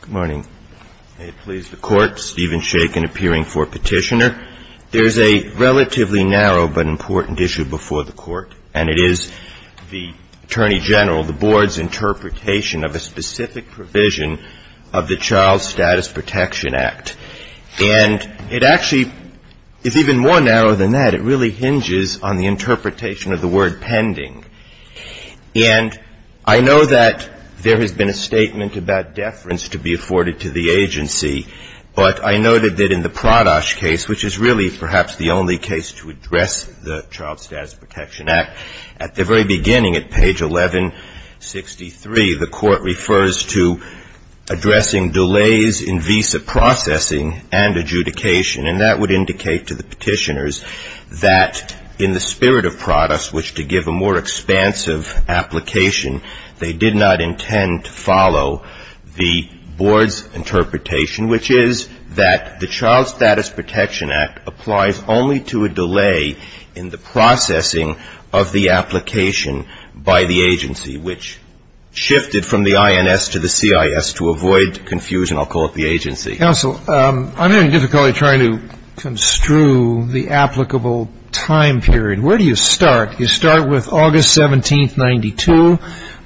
Good morning. May it please the Court, Stephen Shakin appearing for petitioner. There is a relatively narrow but important issue before the Court, and it is the Attorney General, the Board's interpretation of a specific provision of the Child Status Protection Act. And it actually is even more narrow than that. It really hinges on the interpretation of the word pending. And I know that there has been a statement about deference to be afforded to the agency. But I noted that in the Pradosh case, which is really perhaps the only case to address the Child Status Protection Act, at the very beginning, at page 1163, the Court refers to addressing delays in visa processing and adjudication. And that would indicate to the petitioners that in the spirit of Pradosh, which to give a more expansive application, they did not intend to follow the Board's interpretation, which is that the Child Status Protection Act applies only to a delay in the processing of the application by the agency, which shifted from the INS to the CIS. To avoid confusion, I'll call it the agency. Counsel, I'm having difficulty trying to construe the applicable time period. Where do you start? You start with August 17th, 92,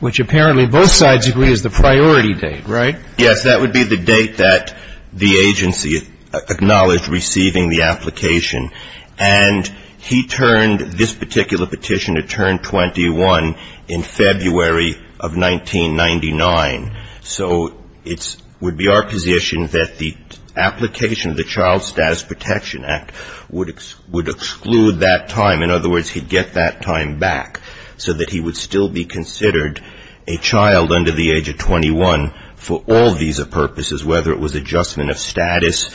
which apparently both sides agree is the priority date, right? Yes, that would be the date that the agency acknowledged receiving the application. And he turned this particular petitioner turned 21 in February of 1999. So it would be our position that the application of the Child Status Protection Act would exclude that time. In other words, he'd get that time back so that he would still be considered a child under the age of 21 for all visa purposes, whether it was adjustment of status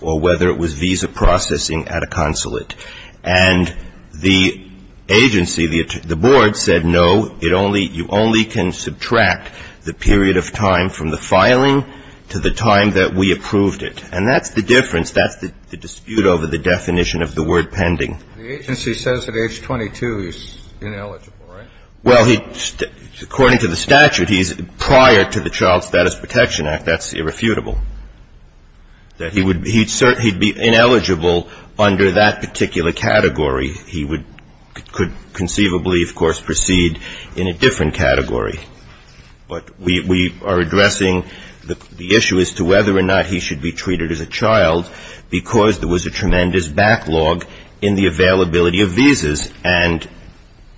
or whether it was visa processing at a consulate. And the agency, the Board, said no, you only can subtract the period of time from the filing to the time that we approved it. And that's the difference. That's the dispute over the definition of the word pending. The agency says at age 22 he's ineligible, right? Well, according to the statute, he's prior to the Child Status Protection Act. That's irrefutable. He'd be ineligible under that particular category. He could conceivably, of course, proceed in a different category. But we are addressing the issue as to whether or not he should be treated as a child because there was a tremendous backlog in the availability of visas. And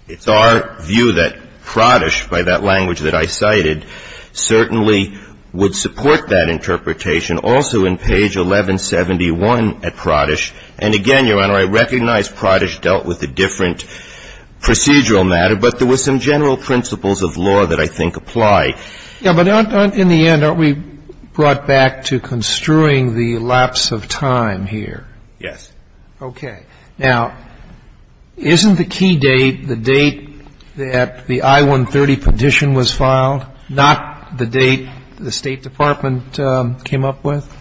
it's our view that Pradish, by that language that I cited, certainly would support that interpretation. Also in page 1171 at Pradish, and again, Your Honor, I recognize Pradish dealt with a different procedural matter, but there were some general principles of law that I think apply. Yeah, but in the end, aren't we brought back to construing the lapse of time here? Yes. Okay. Now, isn't the key date the date that the I-130 petition was filed, not the date the State Department came up with?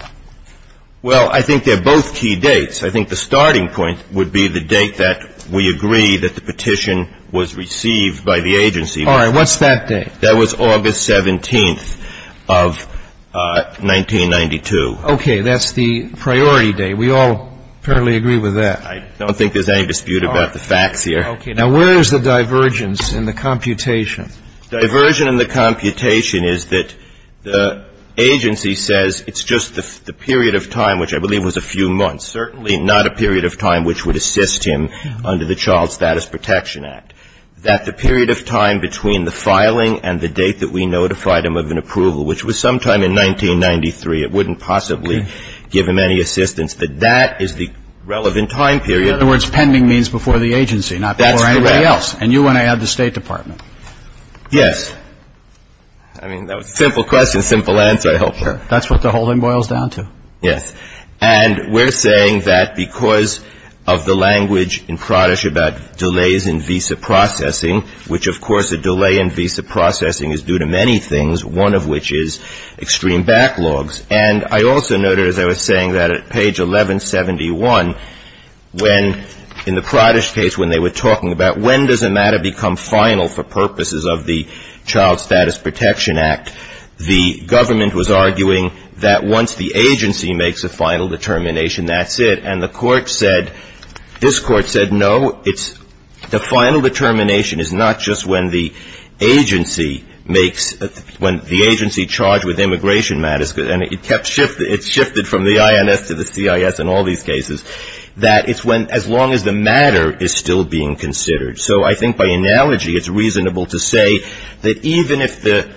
Well, I think they're both key dates. I think the starting point would be the date that we agree that the petition was received by the agency. All right. What's that date? That was August 17th of 1992. Okay. That's the priority date. We all apparently agree with that. I don't think there's any dispute about the facts here. Okay. Now, where is the divergence in the computation? Diversion in the computation is that the agency says it's just the period of time, which I believe was a few months, certainly not a period of time which would assist him under the Child Status Protection Act, that the period of time between the filing and the date that we notified him of an approval, which was sometime in 1993, it wouldn't possibly give him any assistance, but that is the relevant time period. In other words, pending means before the agency, not before anybody else. That's correct. And you and I had the State Department. Yes. I mean, that was a simple question, simple answer, I hope. Sure. That's what the whole thing boils down to. Yes. And we're saying that because of the language in Pradesh about delays in visa processing, which, of course, a delay in visa processing is due to many things, one of which is extreme backlogs. And I also noted, as I was saying, that at page 1171, when in the Pradesh case, when they were talking about when does a matter become final for purposes of the Child Status Protection Act, the government was arguing that once the agency makes a final determination, that's it. And the court said, this court said, no, it's, the final determination is not just when the agency makes, when the agency charged with immigration matters, and it kept shifting, it shifted from the INS to the CIS in all these cases, that it's when, as long as the matter is still being considered. So I think by analogy, it's reasonable to say that even if the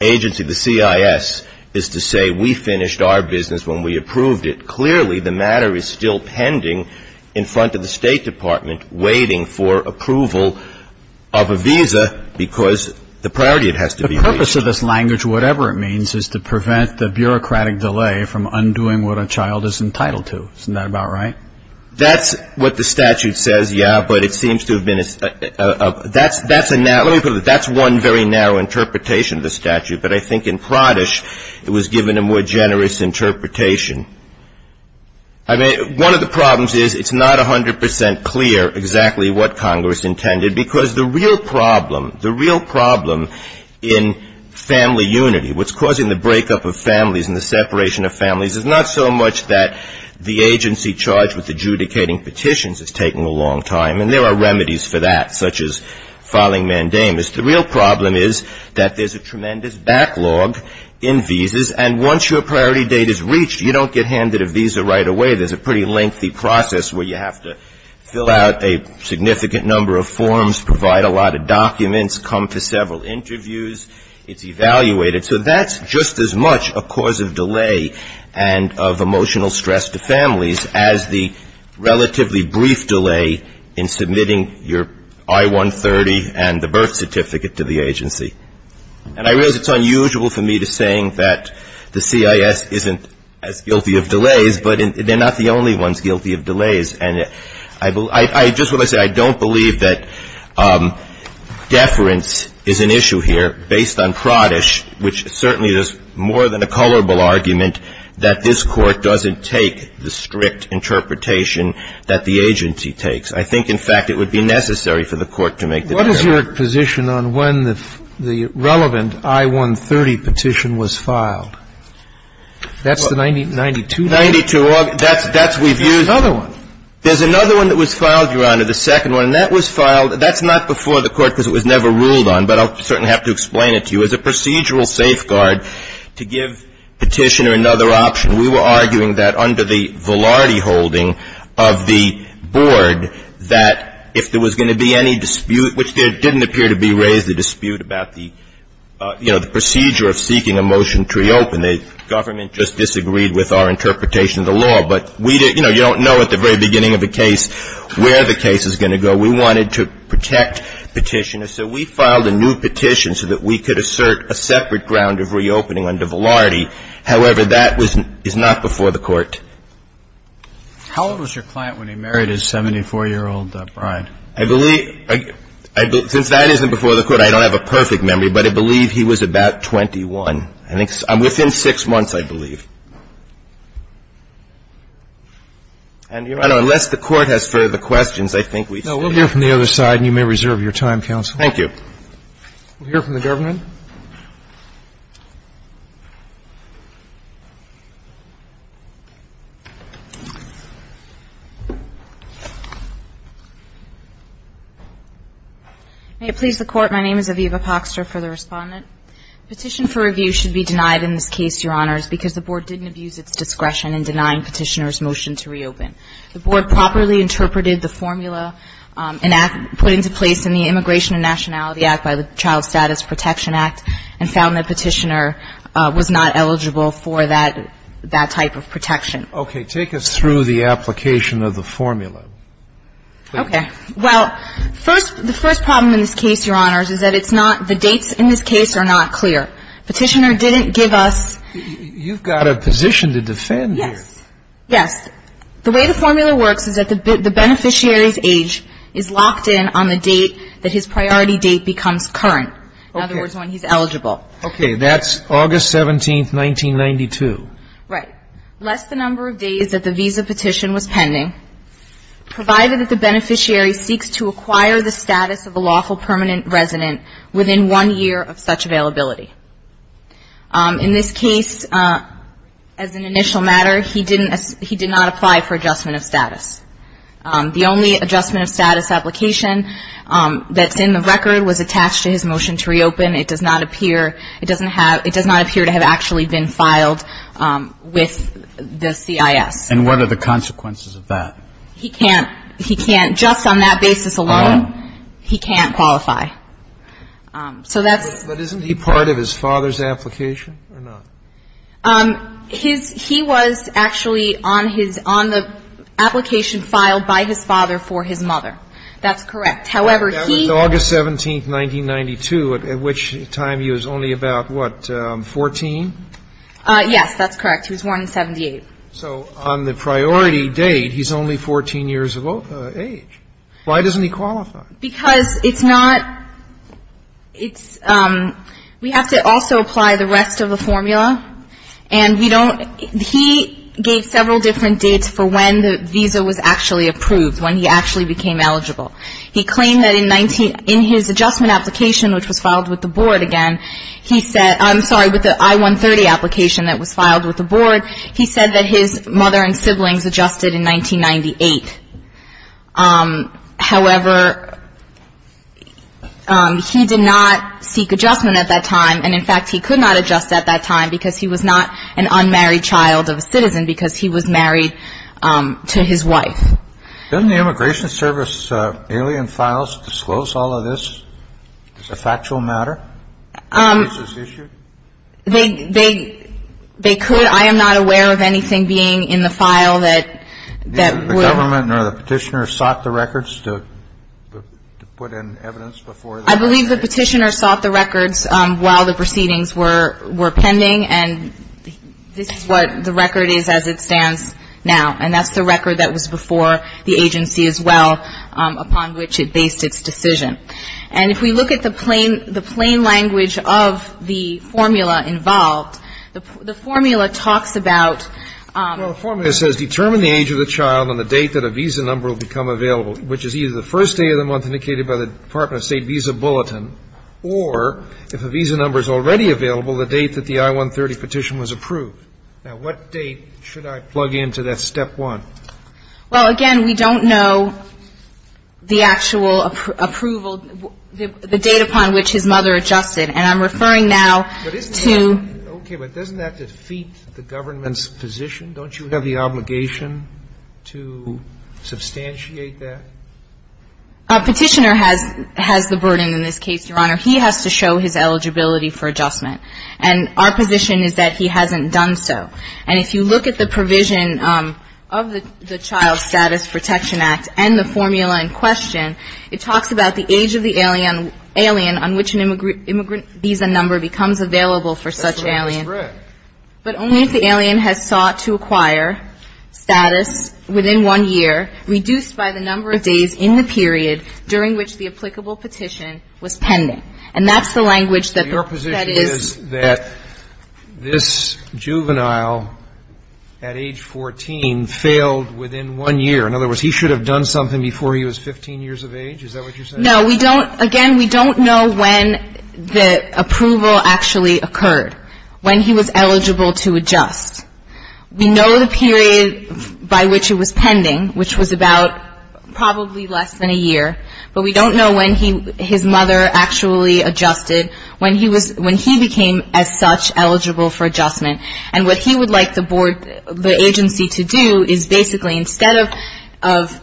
agency, the CIS, is to say we finished our business when we approved it, clearly the matter is still pending in front of the State Department waiting for approval of a visa because the priority, it has to be reached. The purpose of this language, whatever it means, is to prevent the bureaucratic delay from undoing what a child is entitled to. Isn't that about right? That's what the statute says, yeah, but it seems to have been a, that's a, let me put it this way, that's one very narrow interpretation of the statute, but I think in Pradesh it was given a more generous interpretation. I mean, one of the problems is it's not 100 percent clear exactly what Congress intended because the real problem, the real problem in family unity, what's causing the breakup of families and the separation of families is not so much that the agency charged with adjudicating petitions is taking a long time, and there are remedies for that, such as filing mandamus. The real problem is that there's a tremendous backlog in visas, and once your priority date is reached, you don't get handed a visa right away. There's a pretty lengthy process where you have to fill out a significant number of forms, provide a lot of documents, come to several interviews. It's evaluated. So that's just as much a cause of delay and of emotional stress to families as the relatively brief delay in submitting your I-130 and the birth certificate to the agency. And I realize it's unusual for me to say that the CIS isn't as guilty of delays, but they're not the only ones guilty of delays. And I just want to say I don't believe that deference is an issue here based on Pradesh, which certainly is more than a colorable argument that this Court doesn't take the strict interpretation that the agency takes. I think, in fact, it would be necessary for the Court to make the deference. What is your position on when the relevant I-130 petition was filed? That's the 92? 92. That's we've used. There's another one. There's another one that was filed, Your Honor, the second one. And that was filed. That's not before the Court because it was never ruled on. But I'll certainly have to explain it to you. As a procedural safeguard to give petitioner another option, we were arguing that under the Velardi holding of the board that if there was going to be any dispute, which there didn't appear to be raised, a dispute about the, you know, the procedure of seeking a motion to reopen. The government just disagreed with our interpretation of the law. But we didn't, you know, you don't know at the very beginning of a case where the case is going to go. We wanted to protect petitioner. So we filed a new petition so that we could assert a separate ground of reopening under Velardi. However, that was not before the Court. How old was your client when he married his 74-year-old bride? I believe, since that isn't before the Court, I don't have a perfect memory, but I believe he was about 21. I think within six months, I believe. And, Your Honor, unless the Court has further questions, I think we should. No. We'll hear from the other side, and you may reserve your time, counsel. Thank you. We'll hear from the government. Thank you. May it please the Court, my name is Aviva Poxter for the Respondent. Petition for review should be denied in this case, Your Honors, because the Board didn't abuse its discretion in denying petitioner's motion to reopen. The Board properly interpreted the formula put into place in the Immigration and Nationality Act by the Child Status Protection Act and found that petitioner was not eligible for that type of protection. Okay. Take us through the application of the formula. Okay. Well, first, the first problem in this case, Your Honors, is that it's not the dates in this case are not clear. Petitioner didn't give us ---- You've got a position to defend here. Yes. Yes. The way the formula works is that the beneficiary's age is locked in on the date that his priority date becomes current. In other words, when he's eligible. Okay. That's August 17th, 1992. Right. Less the number of days that the visa petition was pending, provided that the beneficiary seeks to acquire the status of a lawful permanent resident within one year of such availability. In this case, as an initial matter, he did not apply for adjustment of status. The only adjustment of status application that's in the record was attached to his motion to reopen. It does not appear to have actually been filed with the CIS. And what are the consequences of that? He can't, just on that basis alone, he can't qualify. So that's ---- But isn't he part of his father's application or not? His ---- he was actually on his ---- on the application filed by his father for his mother. That's correct. However, he ---- That was August 17th, 1992, at which time he was only about, what, 14? Yes. That's correct. He was born in 78. So on the priority date, he's only 14 years of age. Why doesn't he qualify? Because it's not ---- it's ---- we have to also apply the rest of the formula, and we don't ---- he gave several different dates for when the visa was actually approved, when he actually became eligible. He claimed that in 19 ---- in his adjustment application, which was filed with the board again, he said ---- I'm sorry, with the I-130 application that was filed with the board, he said that his mother and siblings adjusted in 1998. However, he did not seek adjustment at that time. And, in fact, he could not adjust at that time because he was not an unmarried child of a citizen, because he was married to his wife. Doesn't the Immigration Service alien files disclose all of this? It's a factual matter? They could. I am not aware of anything being in the file that would ---- I believe the petitioner sought the records while the proceedings were pending, and this is what the record is as it stands now. And that's the record that was before the agency as well, upon which it based its decision. And if we look at the plain language of the formula involved, the formula talks about ---- Well, the formula says, Now, what date should I plug into that step one? Well, again, we don't know the actual approval, the date upon which his mother adjusted. And I'm referring now to ---- Okay. But doesn't that defeat the government's position? a visa number will become available? to substantiate that? A petitioner has the burden in this case, Your Honor. He has to show his eligibility for adjustment. And our position is that he hasn't done so. And if you look at the provision of the Child Status Protection Act and the formula in question, it talks about the age of the alien on which an immigrant visa number becomes available for such an alien. That's right. But only if the alien has sought to acquire status within one year, reduced by the number of days in the period during which the applicable petition was pending. And that's the language that is ---- Your position is that this juvenile at age 14 failed within one year. In other words, he should have done something before he was 15 years of age? Is that what you're saying? No. We don't ---- again, we don't know when the approval actually occurred. When he was eligible to adjust. We know the period by which it was pending, which was about probably less than a year. But we don't know when his mother actually adjusted, when he became as such eligible for adjustment. And what he would like the agency to do is basically, instead of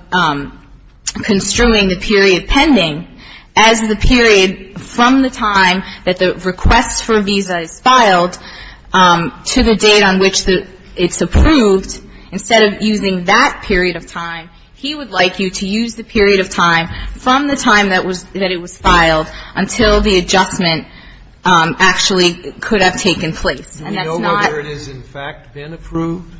construing the period pending, as the period from the time that the request for a visa is filed to the date on which it's approved, instead of using that period of time, he would like you to use the period of time from the time that it was filed until the adjustment actually could have taken place. And that's not ---- Do you know whether it has, in fact, been approved?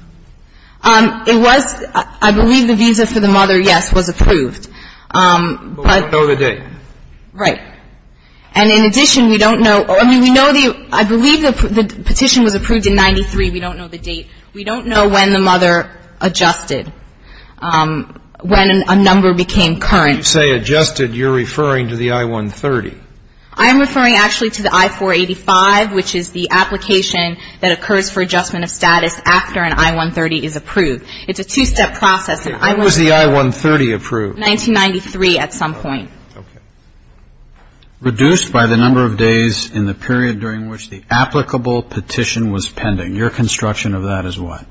It was ---- I believe the visa for the mother, yes, was approved. But we don't know the date. Right. And in addition, we don't know. I mean, we know the ---- I believe the petition was approved in 93. We don't know the date. We don't know when the mother adjusted, when a number became current. You say adjusted. You're referring to the I-130. I'm referring actually to the I-485, which is the application that occurs for adjustment of status after an I-130 is approved. It's a two-step process. What was the I-130 approved? 1993 at some point. Okay. Reduced by the number of days in the period during which the applicable petition was pending. Your construction of that is what?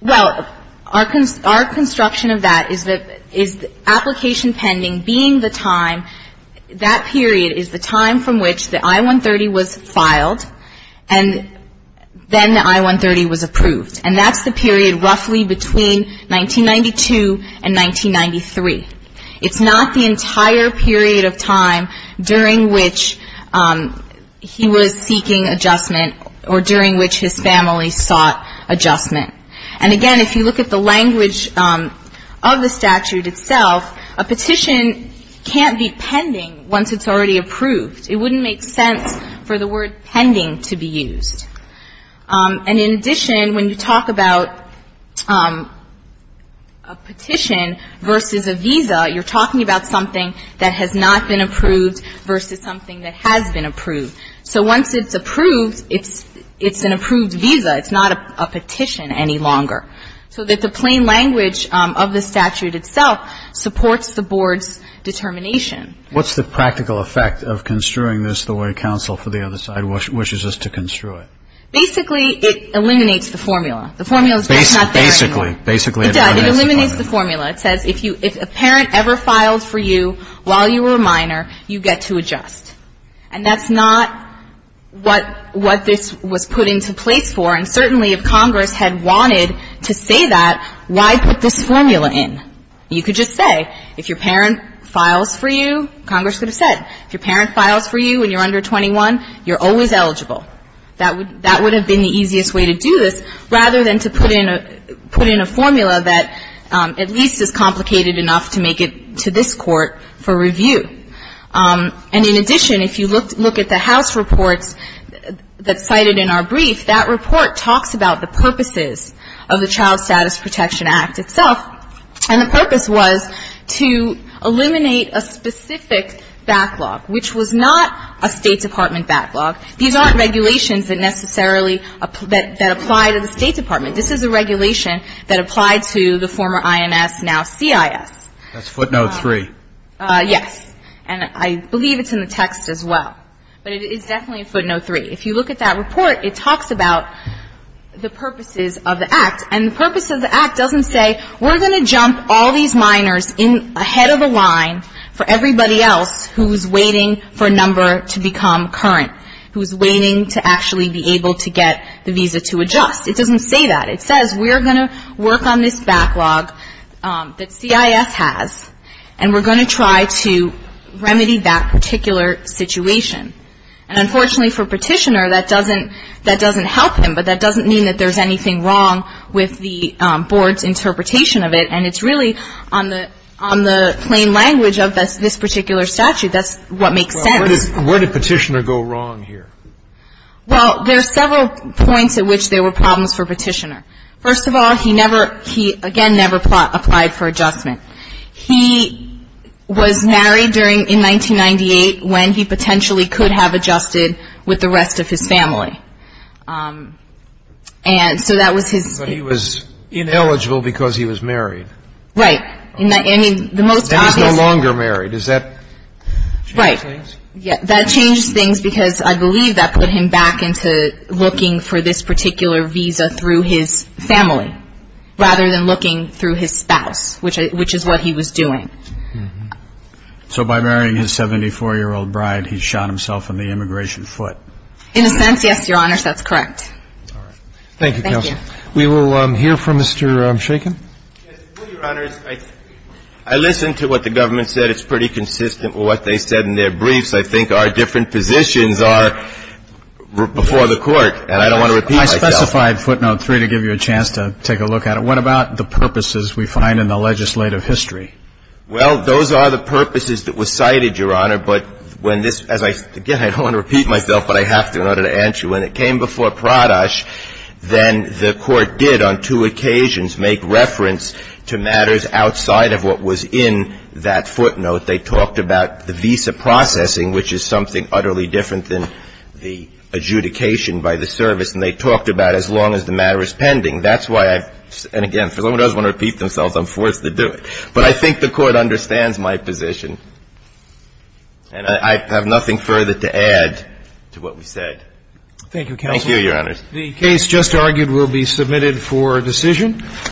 Well, our construction of that is the application pending being the time, that period is the time from which the I-130 was filed, and then the I-130 was approved. And that's the period roughly between 1992 and 1993. It's not the entire period of time during which he was seeking adjustment or during which his family sought adjustment. And again, if you look at the language of the statute itself, a petition can't be pending once it's already approved. It wouldn't make sense for the word pending to be used. And in addition, when you talk about a petition versus a visa, you're talking about something that has not been approved versus something that has been approved. So once it's approved, it's an approved visa. It's not a petition any longer. So that the plain language of the statute itself supports the board's determination. What's the practical effect of construing this the way counsel for the other side wishes us to construe it? Basically, it eliminates the formula. The formula is not there anymore. Basically, it eliminates the formula. It does. It eliminates the formula. It says if a parent ever filed for you while you were a minor, you get to adjust. And that's not what this was put into place for. And certainly if Congress had wanted to say that, why put this formula in? You could just say if your parent files for you, Congress would have said. If your parent files for you when you're under 21, you're always eligible. That would have been the easiest way to do this, rather than to put in a formula that at least is complicated enough to make it to this court for review. And in addition, if you look at the House reports that's cited in our brief, that report talks about the purposes of the Child Status Protection Act itself. And the purpose was to eliminate a specific backlog, which was not a State Department backlog. These aren't regulations that necessarily apply to the State Department. This is a regulation that applied to the former IMS, now CIS. That's footnote 3. Yes. And I believe it's in the text as well. But it is definitely footnote 3. And the purpose of the act doesn't say we're going to jump all these minors ahead of the line for everybody else who's waiting for a number to become current, who's waiting to actually be able to get the visa to adjust. It doesn't say that. It says we're going to work on this backlog that CIS has, and we're going to try to remedy that particular situation. And unfortunately for Petitioner, that doesn't help him. But that doesn't mean that there's anything wrong with the Board's interpretation of it. And it's really on the plain language of this particular statute. That's what makes sense. Well, where did Petitioner go wrong here? Well, there are several points at which there were problems for Petitioner. First of all, he never, he again never applied for adjustment. He was married during, in 1998 when he potentially could have adjusted with the rest of his family. And so that was his. But he was ineligible because he was married. Right. I mean, the most obvious. And he's no longer married. Does that change things? Right. That changes things because I believe that put him back into looking for this particular visa through his family, rather than looking through his spouse, which is what he was doing. So by marrying his 74-year-old bride, he shot himself in the immigration foot. In a sense, yes, Your Honors, that's correct. All right. Thank you, Counsel. Thank you. We will hear from Mr. Shakin. Yes. Your Honors, I listened to what the government said. It's pretty consistent with what they said in their briefs. I think our different positions are before the Court, and I don't want to repeat myself. I specified footnote three to give you a chance to take a look at it. What about the purposes we find in the legislative history? Well, those are the purposes that were cited, Your Honor. But when this – again, I don't want to repeat myself, but I have to in order to answer you. When it came before Pradosh, then the Court did on two occasions make reference to matters outside of what was in that footnote. They talked about the visa processing, which is something utterly different than the adjudication by the service. And they talked about as long as the matter is pending. That's why I – and again, if someone does want to repeat themselves, I'm forced to do it. But I think the Court understands my position, and I have nothing further to add to what we said. Thank you, Counsel. Thank you, Your Honors. The case just argued will be submitted for decision.